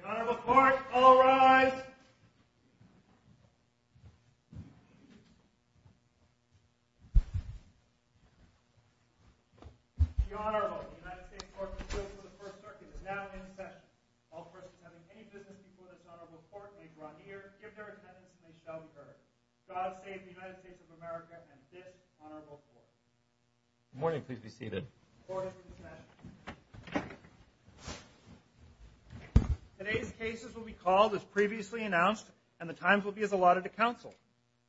The Honorable Court will now rise. The Honorable United States Court of Appeals for the First Circuit is now in session. All persons having any business before this Honorable Court may draw near, give their attendance, and they shall be heard. God save the United States of America and this Honorable Court. Good morning. Please be seated. The Court is in session. Today's cases will be called as previously announced, and the times will be as allotted to counsel.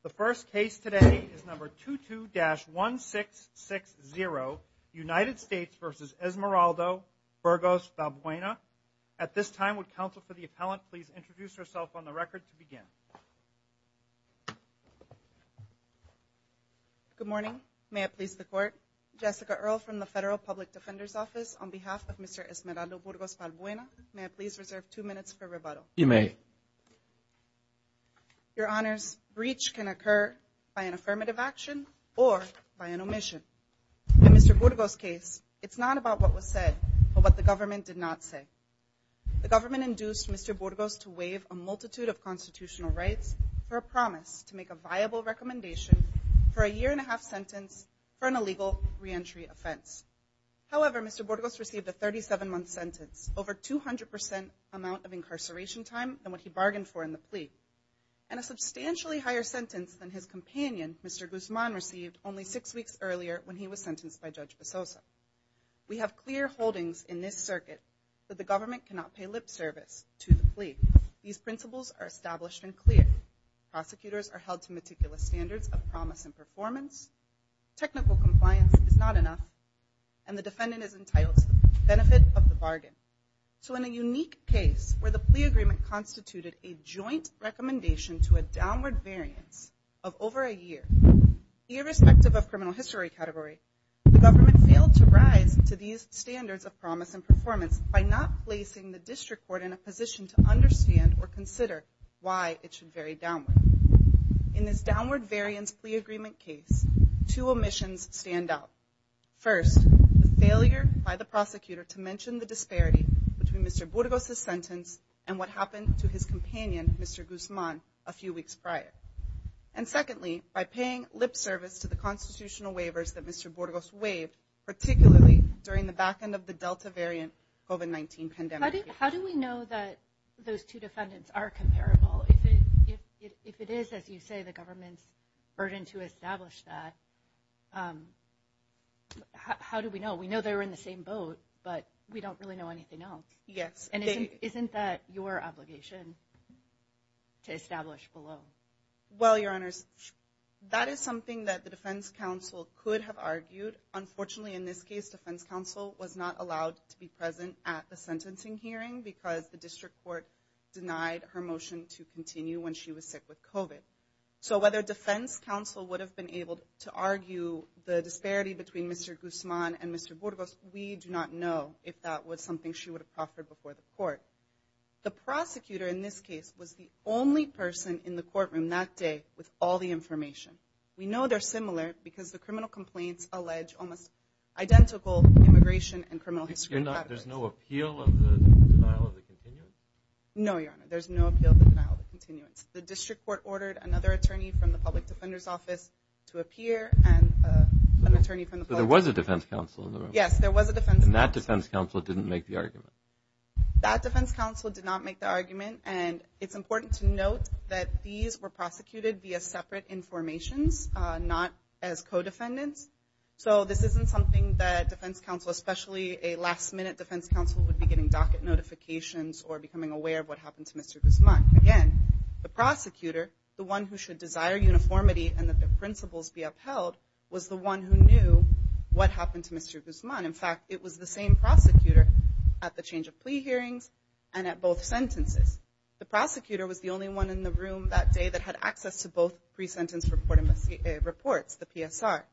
The first case today is No. 22-1660, United States v. Esmeraldo-Burgos-Balbuena. At this time, would counsel for the appellant please introduce herself on the record to begin. Good morning. May it please the Court. On behalf of Mr. Esmeraldo-Burgos-Balbuena, may I please reserve two minutes for rebuttal? You may. Your Honors, breach can occur by an affirmative action or by an omission. In Mr. Burgos' case, it's not about what was said, but what the government did not say. The government induced Mr. Burgos to waive a multitude of constitutional rights for a promise to make a viable recommendation for a year-and-a-half sentence for an illegal reentry offense. However, Mr. Burgos received a 37-month sentence, over 200% amount of incarceration time than what he bargained for in the plea, and a substantially higher sentence than his companion, Mr. Guzman, received only six weeks earlier when he was sentenced by Judge Besosa. We have clear holdings in this circuit that the government cannot pay lip service to the plea. These principles are established and clear. Prosecutors are held to meticulous standards of promise and performance. Technical compliance is not enough, and the defendant is entitled to the benefit of the bargain. So in a unique case where the plea agreement constituted a joint recommendation to a downward variance of over a year, irrespective of criminal history category, the government failed to rise to these standards of promise and performance by not placing the district court in a position to understand or consider why it should vary downward. In this downward variance plea agreement case, two omissions stand out. First, the failure by the prosecutor to mention the disparity between Mr. Burgos' sentence and what happened to his companion, Mr. Guzman, a few weeks prior. And secondly, by paying lip service to the constitutional waivers that Mr. Burgos waived, particularly during the back end of the Delta variant COVID-19 pandemic. How do we know that those two defendants are comparable? If it is, as you say, the government's burden to establish that, how do we know? We know they were in the same boat, but we don't really know anything else. And isn't that your obligation to establish below? Well, Your Honors, that is something that the defense counsel could have argued. Unfortunately, in this case, defense counsel was not allowed to be present at the sentencing hearing because the district court denied her motion to continue when she was sick with COVID. So whether defense counsel would have been able to argue the disparity between Mr. Guzman and Mr. Burgos, we do not know if that was something she would have offered before the court. The prosecutor in this case was the only person in the courtroom that day with all the information. We know they're similar because the criminal complaints allege almost identical immigration and criminal history. There's no appeal of the denial of the continuance? No, Your Honor, there's no appeal of the denial of the continuance. The district court ordered another attorney from the public defender's office to appear and an attorney from the public defender's office. So there was a defense counsel in the room? Yes, there was a defense counsel. And that defense counsel didn't make the argument? That defense counsel did not make the argument. And it's important to note that these were prosecuted via separate informations, not as co-defendants. So this isn't something that defense counsel, especially a last minute defense counsel, would be getting docket notifications or becoming aware of what happened to Mr. Guzman. Again, the prosecutor, the one who should desire uniformity and that the principles be upheld, was the one who knew what happened to Mr. Guzman. In fact, it was the same prosecutor at the change of plea hearings and at both sentences. The prosecutor was the only one in the room that day that had access to both pre-sentence reports, the PSR.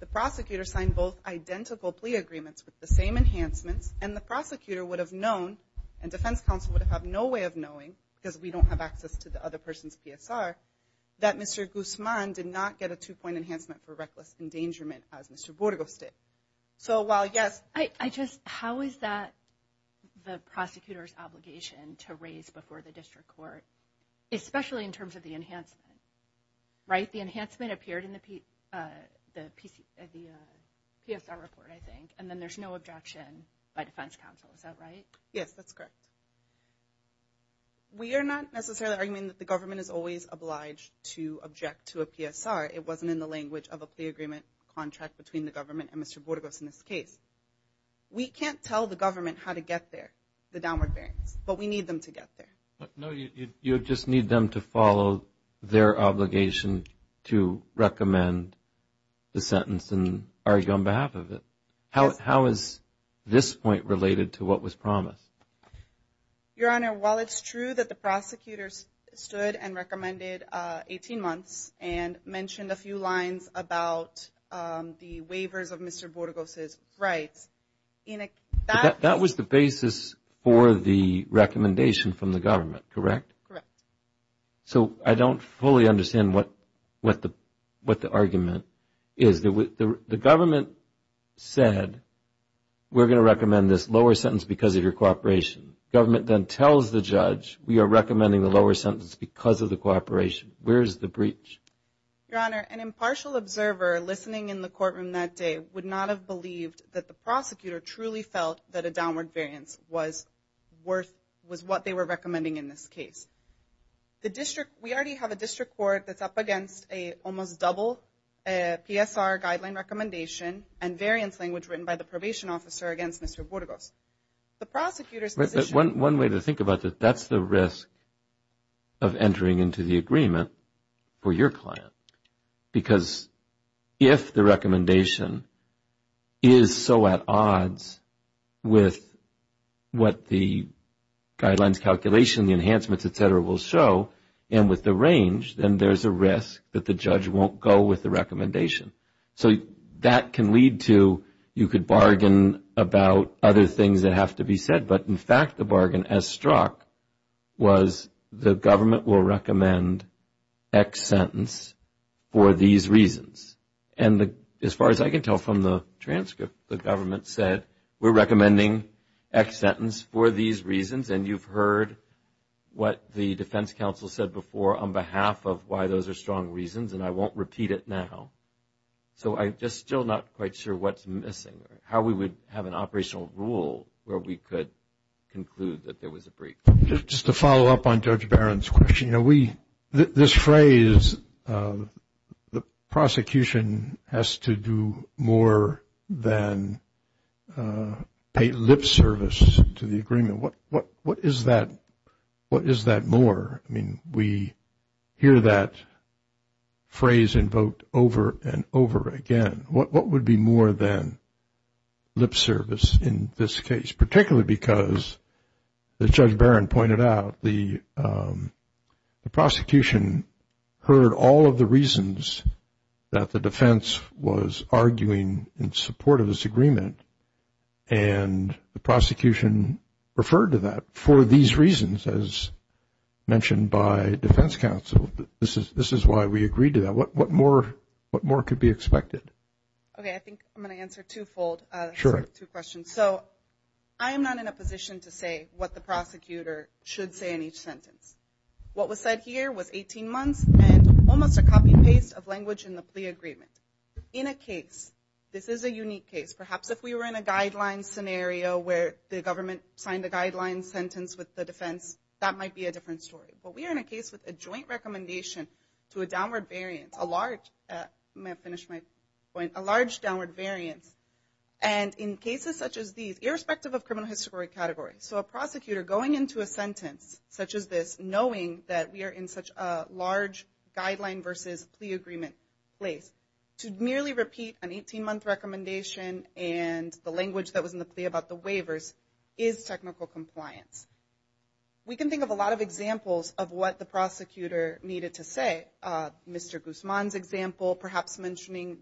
The prosecutor signed both identical plea agreements with the same enhancements, and the prosecutor would have known and defense counsel would have had no way of knowing, because we don't have access to the other person's PSR, that Mr. Guzman did not get a two-point enhancement for reckless endangerment as Mr. Burgos did. So while, yes. I just, how is that the prosecutor's obligation to raise before the district court, especially in terms of the enhancement, right? The enhancement appeared in the PSR report, I think, and then there's no objection by defense counsel. Is that right? Yes, that's correct. We are not necessarily arguing that the government is always obliged to object to a PSR. It wasn't in the language of a plea agreement contract between the government and Mr. Burgos in this case. We can't tell the government how to get there, the downward bearings, but we need them to get there. No, you just need them to follow their obligation to recommend the sentence and argue on behalf of it. How is this point related to what was promised? Your Honor, while it's true that the prosecutors stood and recommended 18 months and mentioned a few lines about the waivers of Mr. Burgos' rights, that was the basis for the recommendation from the government, correct? Correct. So I don't fully understand what the argument is. The government said, we're going to recommend this lower sentence because of your cooperation. The government then tells the judge, we are recommending the lower sentence because of the cooperation. Where is the breach? Your Honor, an impartial observer listening in the courtroom that day would not have believed that the prosecutor truly felt that a downward variance was what they were recommending in this case. We already have a district court that's up against an almost double PSR guideline recommendation and variance language written by the probation officer against Mr. Burgos. One way to think about it, that's the risk of entering into the agreement for your client. Because if the recommendation is so at odds with what the guidelines calculation, the enhancements, et cetera, will show, and with the range, then there's a risk that the judge won't go with the recommendation. So that can lead to, you could bargain about other things that have to be said, but in fact, the bargain, as struck, was the government will recommend X sentence for these reasons. And as far as I can tell from the transcript, the government said, we're recommending X sentence for these reasons. And you've heard what the defense counsel said before on behalf of why those are strong reasons, and I won't repeat it now. So I'm just still not quite sure what's missing, how we would have an operational rule where we could conclude that there was a breach. Just to follow up on Judge Barron's question, you know, this phrase, the prosecution has to do more than pay lip service to the agreement. What is that more? I mean, we hear that phrase invoked over and over again. What would be more than lip service in this case, particularly because, as Judge Barron pointed out, the prosecution heard all of the reasons that the defense was arguing in support of this agreement, and the prosecution referred to that for these reasons, as mentioned by defense counsel. This is why we agreed to that. What more could be expected? Okay, I think I'm going to answer two-fold. Sure. Two questions. So I am not in a position to say what the prosecutor should say in each sentence. What was said here was 18 months and almost a copy and paste of language in the plea agreement. In a case, this is a unique case, perhaps if we were in a guideline scenario where the government signed a guideline sentence with the defense, that might be a different story. But we are in a case with a joint recommendation to a downward variance, a large, let me finish my point, a large downward variance. And in cases such as these, irrespective of criminal history category, so a prosecutor going into a sentence such as this, knowing that we are in such a large guideline versus plea agreement place, to merely repeat an 18-month recommendation and the language that was in the plea about the waivers is technical compliance. We can think of a lot of examples of what the prosecutor needed to say. Mr. Guzman's example, perhaps mentioning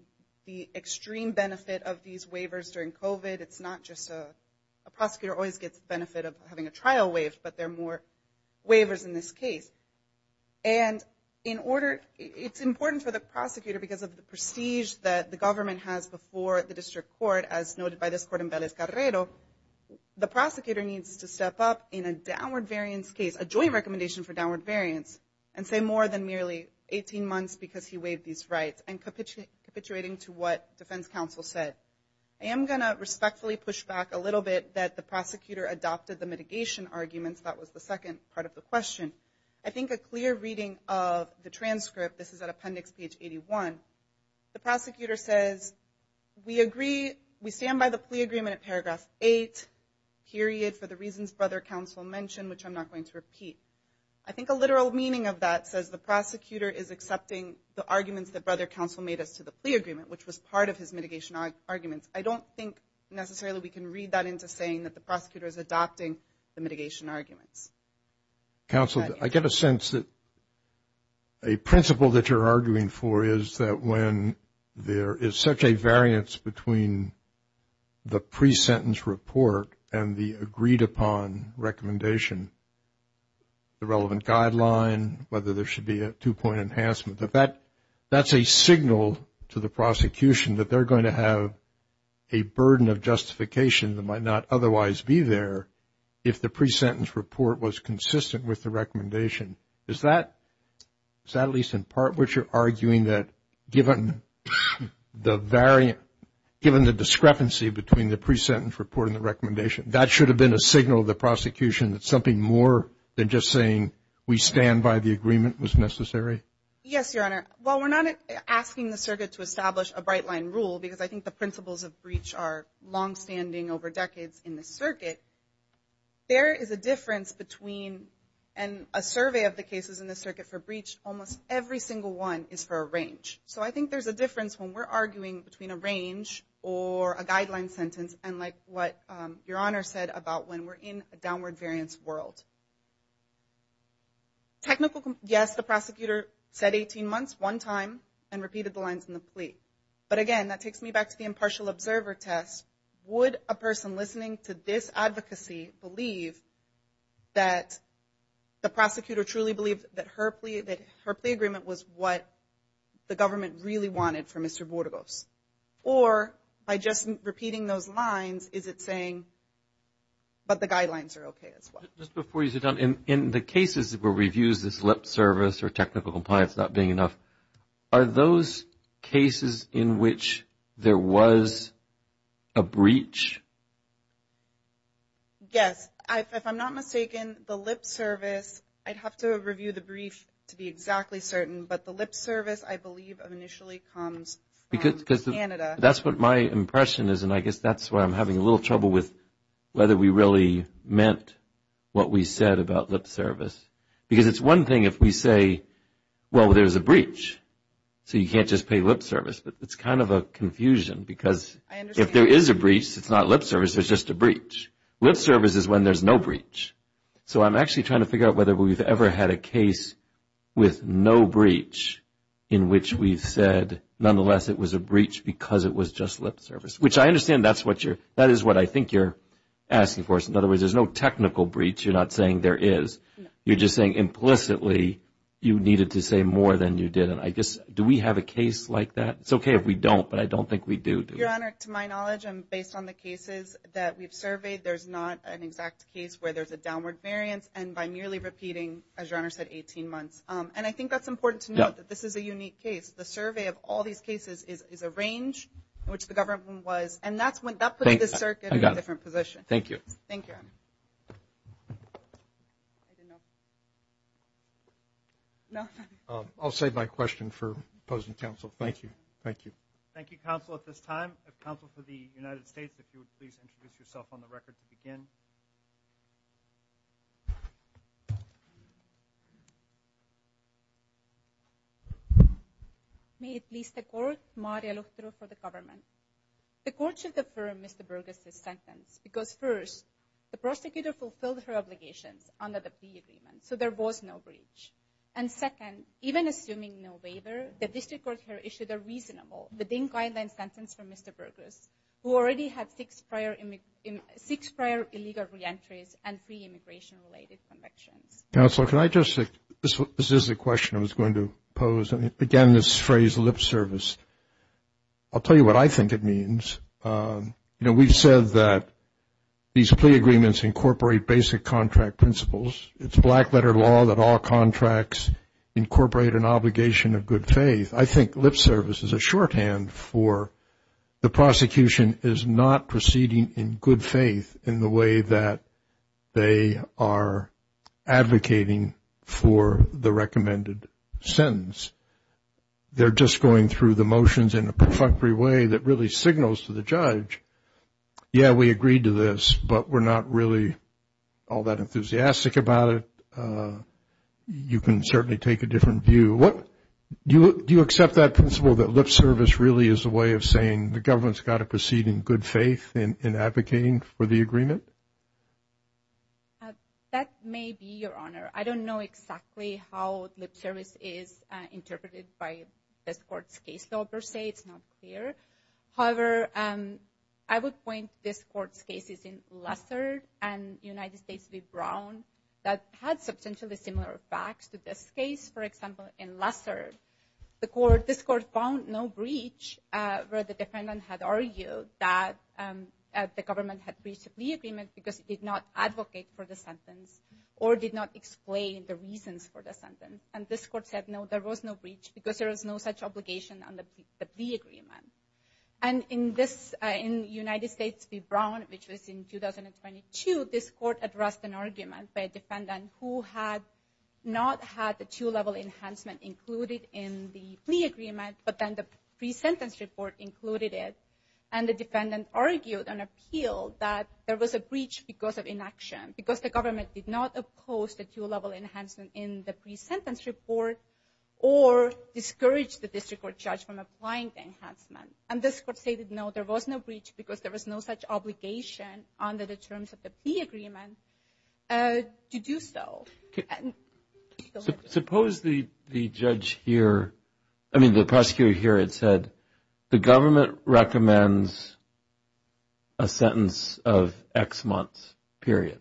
the extreme benefit of these waivers during COVID. It's not just a prosecutor always gets the benefit of having a trial waived, but there are more waivers in this case. And in order, it's important for the prosecutor because of the prestige that the government has before the district court, as noted by this court in Vélez-Carrero, the prosecutor needs to step up in a downward variance case, a joint recommendation for downward variance, and say more than merely 18 months because he waived these rights, and capitulating to what defense counsel said. I am going to respectfully push back a little bit that the prosecutor adopted the mitigation arguments, that was the second part of the question. I think a clear reading of the transcript, this is at appendix page 81, the prosecutor says, we agree, we stand by the plea agreement at paragraph 8, period, for the reasons brother counsel mentioned, which I'm not going to repeat. I think a literal meaning of that says the prosecutor is accepting the arguments that brother counsel made as to the plea agreement, which was part of his mitigation arguments. I don't think necessarily we can read that into saying that the prosecutor is adopting the mitigation arguments. Counsel, I get a sense that a principle that you're arguing for is that when there is such a variance between the pre-sentence report and the agreed upon recommendation, the relevant guideline, whether there should be a two-point enhancement, that that's a signal to the prosecution that they're going to have a burden of justification that might not otherwise be there if the pre-sentence report was consistent with the recommendation. Is that at least in part what you're arguing, that given the discrepancy between the pre-sentence report and the recommendation, that should have been a signal to the prosecution that something more than just saying we stand by the agreement was necessary? Yes, Your Honor. While we're not asking the circuit to establish a bright line rule, because I think the principles of breach are longstanding over decades in the circuit, there is a difference between a survey of the cases in the circuit for breach, almost every single one is for a range. So I think there's a difference when we're arguing between a range or a guideline sentence and like what Your Honor said about when we're in a downward variance world. Yes, the prosecutor said 18 months one time and repeated the lines in the plea. But again, that takes me back to the impartial observer test. Would a person listening to this advocacy believe that the prosecutor truly believed that her plea agreement was what the government really wanted for Mr. Bordegos? Or by just repeating those lines, is it saying, but the guidelines are okay as well? Just before you sit down, in the cases where we've used this lip service or technical compliance not being enough, are those cases in which there was a breach? Yes. If I'm not mistaken, the lip service, I'd have to review the brief to be exactly certain, but the lip service I believe initially comes from Canada. That's what my impression is, and I guess that's why I'm having a little trouble with whether we really meant what we said about lip service. Because it's one thing if we say, well, there's a breach, so you can't just pay lip service. But it's kind of a confusion because if there is a breach, it's not lip service, it's just a breach. Lip service is when there's no breach. So I'm actually trying to figure out whether we've ever had a case with no breach in which we've said, nonetheless, it was a breach because it was just lip service, which I understand that's what you're, that is what I think you're asking for. In other words, there's no technical breach. You're not saying there is. You're just saying implicitly you needed to say more than you did. And I guess, do we have a case like that? It's okay if we don't, but I don't think we do. Your Honor, to my knowledge, based on the cases that we've surveyed, there's not an exact case where there's a downward variance and by merely repeating, as Your Honor said, 18 months. And I think that's important to note that this is a unique case. The survey of all these cases is a range in which the government was, and that's putting this circuit in a different position. Thank you. Thank you, Your Honor. I'll save my question for opposing counsel. Thank you. Thank you. Thank you, counsel, at this time. Counsel for the United States, if you would please introduce yourself on the record to begin. May it please the Court. Maria Luchtero for the government. The Court should defer Mr. Burgess' sentence because, first, the prosecutor fulfilled her obligations under the plea agreement, so there was no breach. And, second, even assuming no waiver, the district court here issued a reasonable, but in-kind sentence for Mr. Burgess, who already had six prior illegal reentries and three immigration-related convictions. Counsel, can I just, this is the question I was going to pose. Again, this phrase lip service, I'll tell you what I think it means. You know, we've said that these plea agreements incorporate basic contract principles. It's black-letter law that all contracts incorporate an obligation of good faith. I think lip service is a shorthand for the prosecution is not proceeding in good faith in the way that they are advocating for the recommended sentence. They're just going through the motions in a perfunctory way that really signals to the judge, yeah, we agreed to this, but we're not really all that enthusiastic about it. You can certainly take a different view. Do you accept that principle that lip service really is a way of saying the government's got to proceed in good faith in advocating for the agreement? That may be, Your Honor. I don't know exactly how lip service is interpreted by this court's case law per se. It's not clear. However, I would point this court's cases in Lessard and United States v. Brown that had substantially similar facts to this case. For example, in Lessard, this court found no breach where the defendant had argued that the government had breached a plea agreement because it did not advocate for the sentence or did not explain the reasons for the sentence. And this court said, no, there was no breach because there was no such obligation on the plea agreement. And in United States v. Brown, which was in 2022, this court addressed an argument by a defendant who had not had the two-level enhancement included in the plea agreement, but then the pre-sentence report included it. And the defendant argued and appealed that there was a breach because of inaction, because the government did not oppose the two-level enhancement in the pre-sentence report or discourage the district court judge from applying the enhancement. And this court stated, no, there was no breach because there was no such obligation under the terms of the plea agreement to do so. Suppose the judge here, I mean the prosecutor here had said, the government recommends a sentence of X months, period.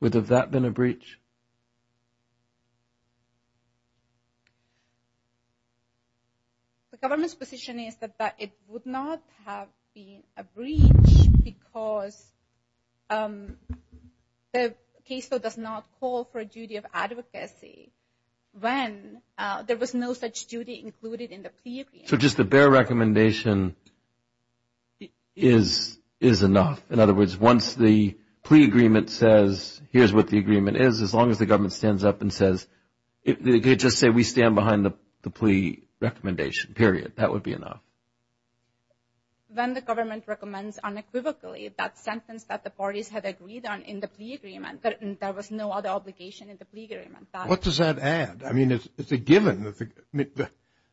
Would that have been a breach? The government's position is that it would not have been a breach because the case law does not call for a duty of advocacy when there was no such duty included in the plea agreement. So just a bare recommendation is enough. In other words, once the plea agreement says, here's what the agreement is, as long as the government stands up and says, just say we stand behind the plea recommendation, period, that would be enough. When the government recommends unequivocally that sentence that the parties had agreed on in the plea agreement, there was no other obligation in the plea agreement. What does that add? I mean, it's a given.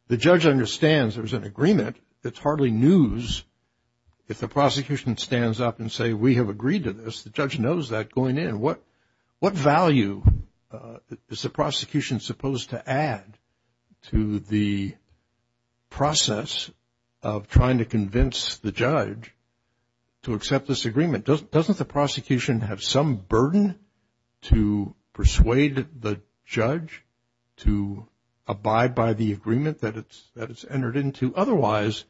The judge understands there was an agreement. It's hardly news if the prosecution stands up and says, we have agreed to this. The judge knows that going in. What value is the prosecution supposed to add to the process of trying to convince the judge to accept this agreement? Doesn't the prosecution have some burden to persuade the judge to abide by the agreement that it's entered into? Otherwise,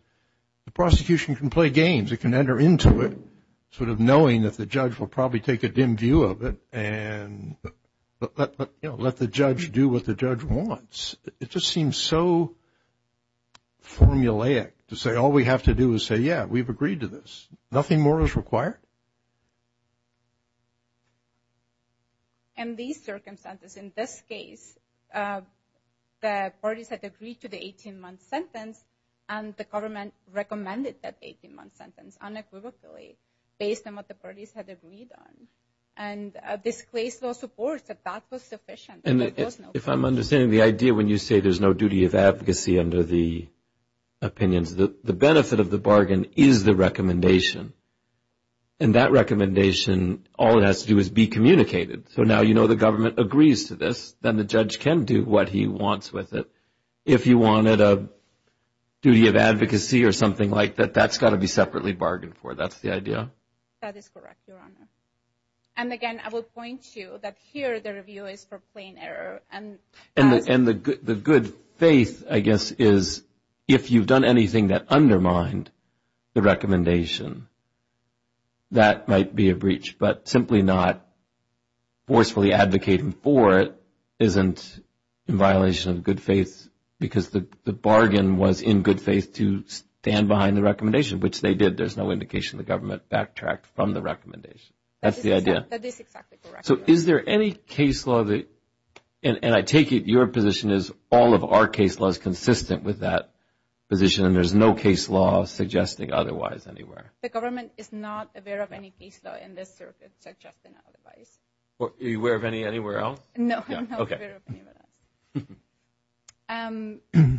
the prosecution can play games. It can enter into it sort of knowing that the judge will probably take a dim view of it and let the judge do what the judge wants. It just seems so formulaic to say all we have to do is say, yeah, we've agreed to this. Nothing more is required. In these circumstances, in this case, the parties had agreed to the 18-month sentence and the government recommended that 18-month sentence unequivocally based on what the parties had agreed on. And a disclosed law supports that that was sufficient. If I'm understanding the idea when you say there's no duty of advocacy under the opinions, the benefit of the bargain is the recommendation. And that recommendation, all it has to do is be communicated. So now you know the government agrees to this, then the judge can do what he wants with it. If you wanted a duty of advocacy or something like that, that's got to be separately bargained for. That's the idea. That is correct, Your Honor. And again, I will point you that here the review is for plain error. And the good faith, I guess, is if you've done anything that undermined the recommendation, that might be a breach. But simply not forcefully advocating for it isn't in violation of good faith because the bargain was in good faith to stand behind the recommendation, which they did. There's no indication the government backtracked from the recommendation. That's the idea. That is exactly correct. So is there any case law, and I take it your position is all of our case law is consistent with that position, and there's no case law suggesting otherwise anywhere? The government is not aware of any case law in this circuit suggesting otherwise. Are you aware of any anywhere else? No, I'm not aware of any of that.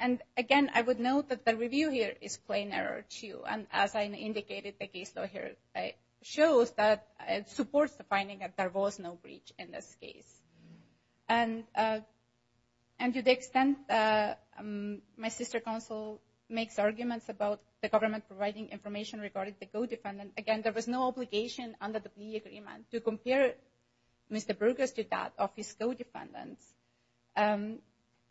And again, I would note that the review here is plain error too. And as I indicated, the case law here shows that it supports the finding that there was no breach in this case. And to the extent my sister counsel makes arguments about the government providing information regarding the co-defendant, again, there was no obligation under the plea agreement to compare Mr. Burgess to that of his co-defendants.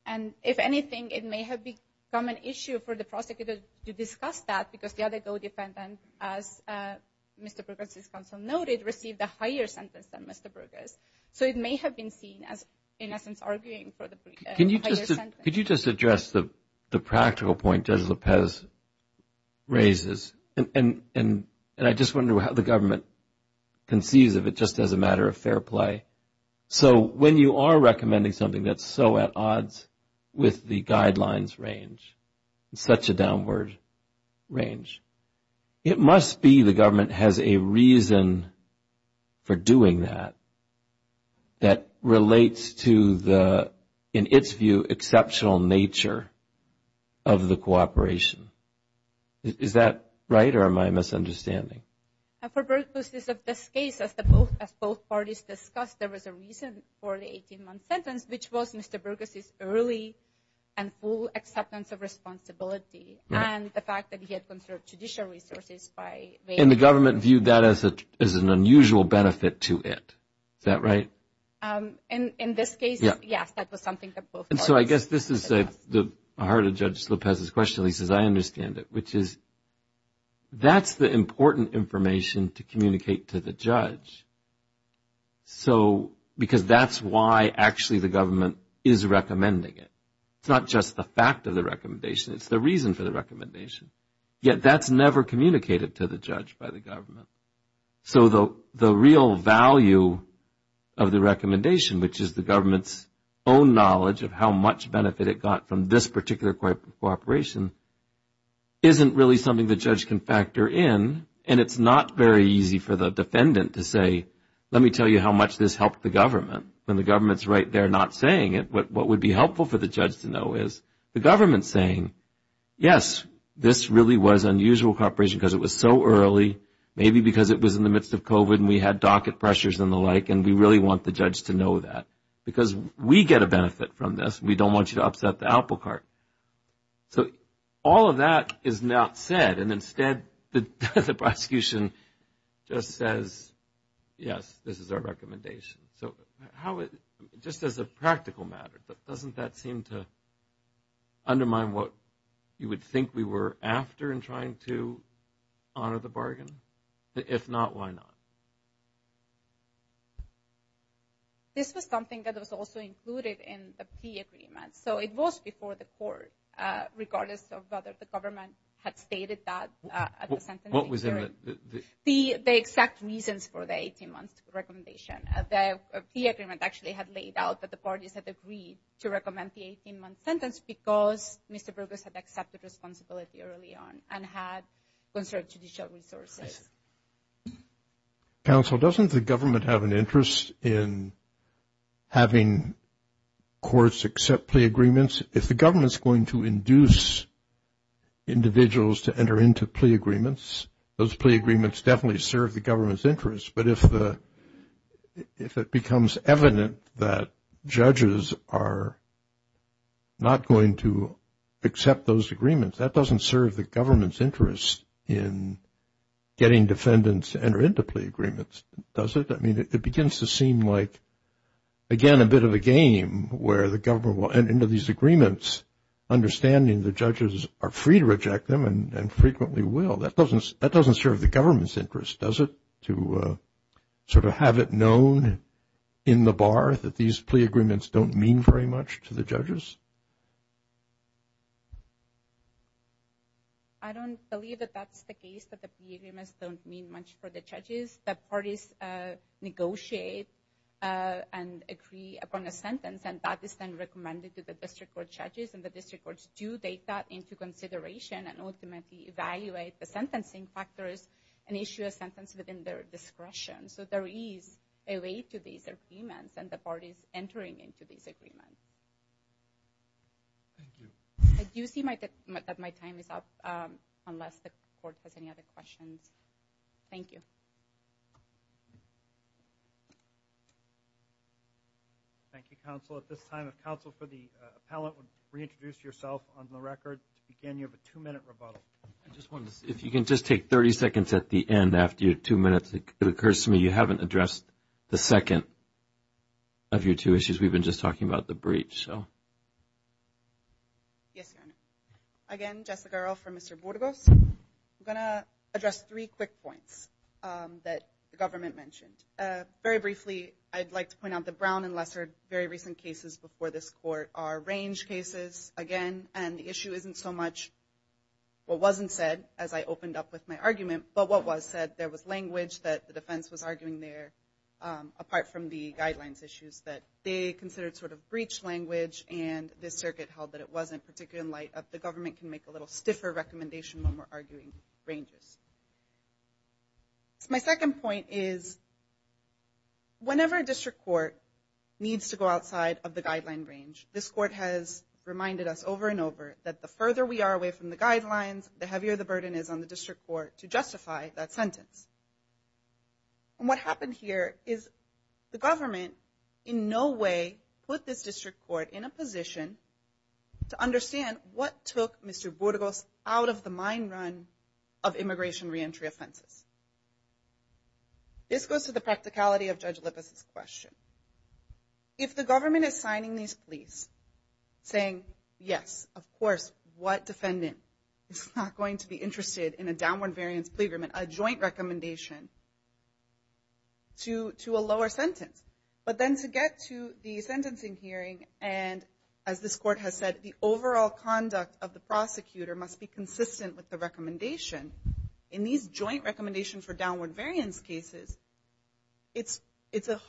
And if anything, it may have become an issue for the prosecutor to discuss that because the other co-defendant, as Mr. Burgess's counsel noted, received a higher sentence than Mr. Burgess. So it may have been seen as, in essence, arguing for the higher sentence. Could you just address the practical point Judge Lopez raises? And I just wonder how the government conceives of it just as a matter of fair play. So when you are recommending something that's so at odds with the guidelines range, such a downward range, it must be the government has a reason for doing that that relates to the, in its view, exceptional nature of the cooperation. Is that right or am I misunderstanding? For Burgess's case, as both parties discussed, there was a reason for the 18-month sentence, which was Mr. Burgess's early and full acceptance of responsibility and the fact that he had conserved judicial resources. And the government viewed that as an unusual benefit to it. Is that right? In this case, yes, that was something that both parties discussed. So I guess this is the heart of Judge Lopez's question. At least as I understand it, which is that's the important information to communicate to the judge. So because that's why actually the government is recommending it. It's not just the fact of the recommendation. It's the reason for the recommendation. Yet that's never communicated to the judge by the government. So the real value of the recommendation, which is the government's own knowledge of how much benefit it got from this particular cooperation, isn't really something the judge can factor in. And it's not very easy for the defendant to say, let me tell you how much this helped the government. When the government's right there not saying it, what would be helpful for the judge to know is the government saying, yes, this really was unusual cooperation because it was so early, maybe because it was in the midst of COVID and we had docket pressures and the like, and we really want the judge to know that. Because we get a benefit from this. We don't want you to upset the apple cart. So all of that is not said, and instead the prosecution just says, yes, this is our recommendation. So just as a practical matter, doesn't that seem to undermine what you would think we were after in trying to honor the bargain? If not, why not? This was something that was also included in the P agreement. So it was before the court, regardless of whether the government had stated that. What was in it? The exact reasons for the 18-month recommendation. The P agreement actually had laid out that the parties had agreed to recommend the 18-month sentence because Mr. Burgess had accepted responsibility early on and had conserved judicial resources. Counsel, doesn't the government have an interest in having courts accept plea agreements? If the government is going to induce individuals to enter into plea agreements, those plea agreements definitely serve the government's interest. But if it becomes evident that judges are not going to accept those agreements, that doesn't serve the government's interest in getting defendants to enter into plea agreements, does it? I mean, it begins to seem like, again, a bit of a game where the government will enter into these agreements, understanding the judges are free to reject them and frequently will. That doesn't serve the government's interest, does it, to sort of have it known in the bar that these plea agreements don't mean very much to the judges? I don't believe that that's the case, that the plea agreements don't mean much for the judges. The parties negotiate and agree upon a sentence, and that is then recommended to the district court judges, and the district courts do take that into consideration and ultimately evaluate the sentencing factors and issue a sentence within their discretion. So there is a way to these agreements and the parties entering into these agreements. Thank you. I do see that my time is up, unless the court has any other questions. Thank you. Thank you, counsel. At this time, if counsel for the appellant would reintroduce yourself on the record. Again, you have a two-minute rebuttal. I just wanted to see if you can just take 30 seconds at the end after your two minutes. It occurs to me you haven't addressed the second of your two issues. We've been just talking about the brief, so. Yes, Your Honor. Again, Jessica Earle for Mr. Burgos. I'm going to address three quick points that the government mentioned. Very briefly, I'd like to point out the Brown and Lesser very recent cases before this court are range cases, again, and the issue isn't so much what wasn't said as I opened up with my argument, but what was said. There was language that the defense was arguing there, apart from the guidelines issues, that they considered sort of breach language, and the circuit held that it wasn't, particularly in light of the government can make a little stiffer recommendation when we're arguing ranges. My second point is whenever a district court needs to go outside of the guideline range, this court has reminded us over and over that the further we are away from the guidelines, the heavier the burden is on the district court to justify that sentence. And what happened here is the government in no way put this district court in a position to understand what took Mr. Burgos out of the mind run of immigration reentry offenses. This goes to the practicality of Judge Lippis' question. If the government is signing these pleas saying, yes, of course, what defendant is not going to be interested in a downward variance plea agreement, a joint recommendation, to a lower sentence. But then to get to the sentencing hearing, and as this court has said, the overall conduct of the prosecutor must be consistent with the recommendation. In these joint recommendations for downward variance cases, it's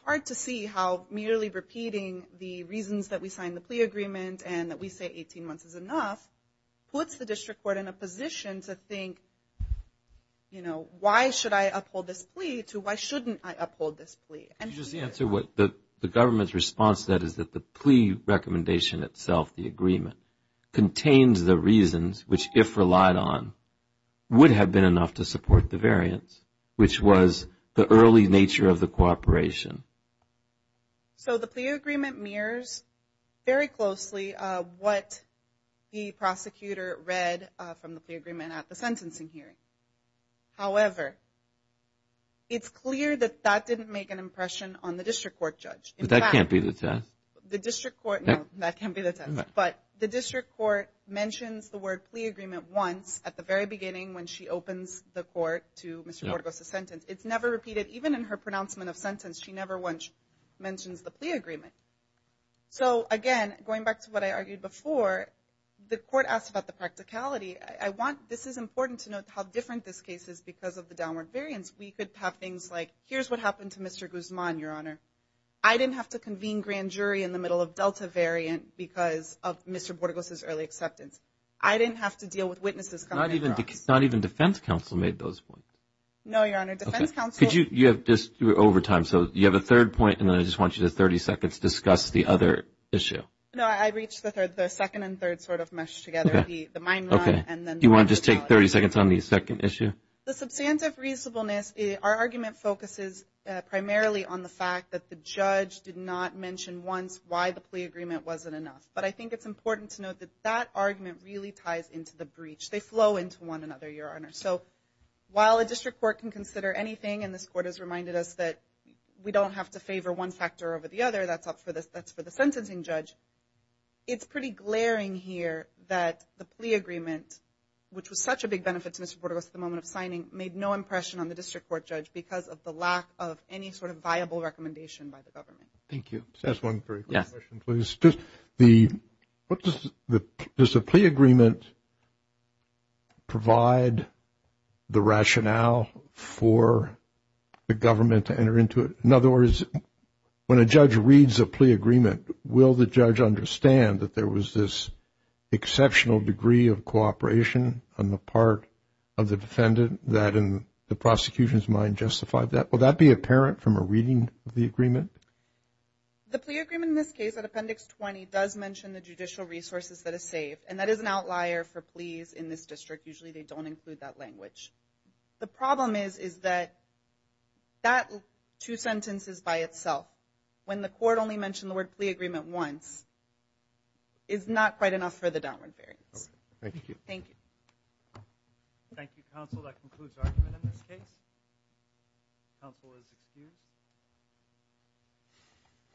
hard to see how merely repeating the reasons that we signed the plea agreement and that we say 18 months is enough, puts the district court in a position to think, you know, why should I uphold this plea to why shouldn't I uphold this plea. Just answer what the government's response to that is that the plea recommendation itself, the agreement, contains the reasons which, if relied on, would have been enough to support the variance, which was the early nature of the cooperation. So the plea agreement mirrors very closely what the prosecutor read from the plea agreement at the sentencing hearing. However, it's clear that that didn't make an impression on the district court judge. But that can't be the test. The district court, no, that can't be the test. But the district court mentions the word plea agreement once at the very beginning when she opens the court to Mr. Borges' sentence. It's never repeated. Even in her pronouncement of sentence, she never mentions the plea agreement. So, again, going back to what I argued before, the court asked about the practicality. This is important to note how different this case is because of the downward variance. We could have things like, here's what happened to Mr. Guzman, Your Honor. I didn't have to convene grand jury in the middle of Delta variant because of Mr. Borges' early acceptance. I didn't have to deal with witnesses coming in for us. Not even defense counsel made those points. No, Your Honor, defense counsel. You have just over time, so you have a third point, and then I just want you to have 30 seconds to discuss the other issue. No, I reached the second and third sort of meshed together, the mine run. Okay. Do you want to just take 30 seconds on the second issue? The substantive reasonableness, our argument focuses primarily on the fact that the judge did not mention once why the plea agreement wasn't enough. But I think it's important to note that that argument really ties into the breach. They flow into one another, Your Honor. So while a district court can consider anything, and this court has reminded us that we don't have to favor one factor over the other, that's up for the sentencing judge, it's pretty glaring here that the plea agreement, which was such a big benefit to Mr. Portogoz at the moment of signing, made no impression on the district court judge because of the lack of any sort of viable recommendation by the government. Thank you. Just one very quick question, please. Does the plea agreement provide the rationale for the government to enter into it? In other words, when a judge reads a plea agreement, will the judge understand that there was this exceptional degree of cooperation on the part of the defendant that in the prosecution's mind justified that? Will that be apparent from a reading of the agreement? The plea agreement in this case, in Appendix 20, does mention the judicial resources that are saved, and that is an outlier for pleas in this district. Usually they don't include that language. The problem is that that two sentences by itself, when the court only mentioned the word plea agreement once, is not quite enough for the downward bearings. Thank you. Thank you. Thank you, counsel. That concludes our argument in this case. Counsel is excused.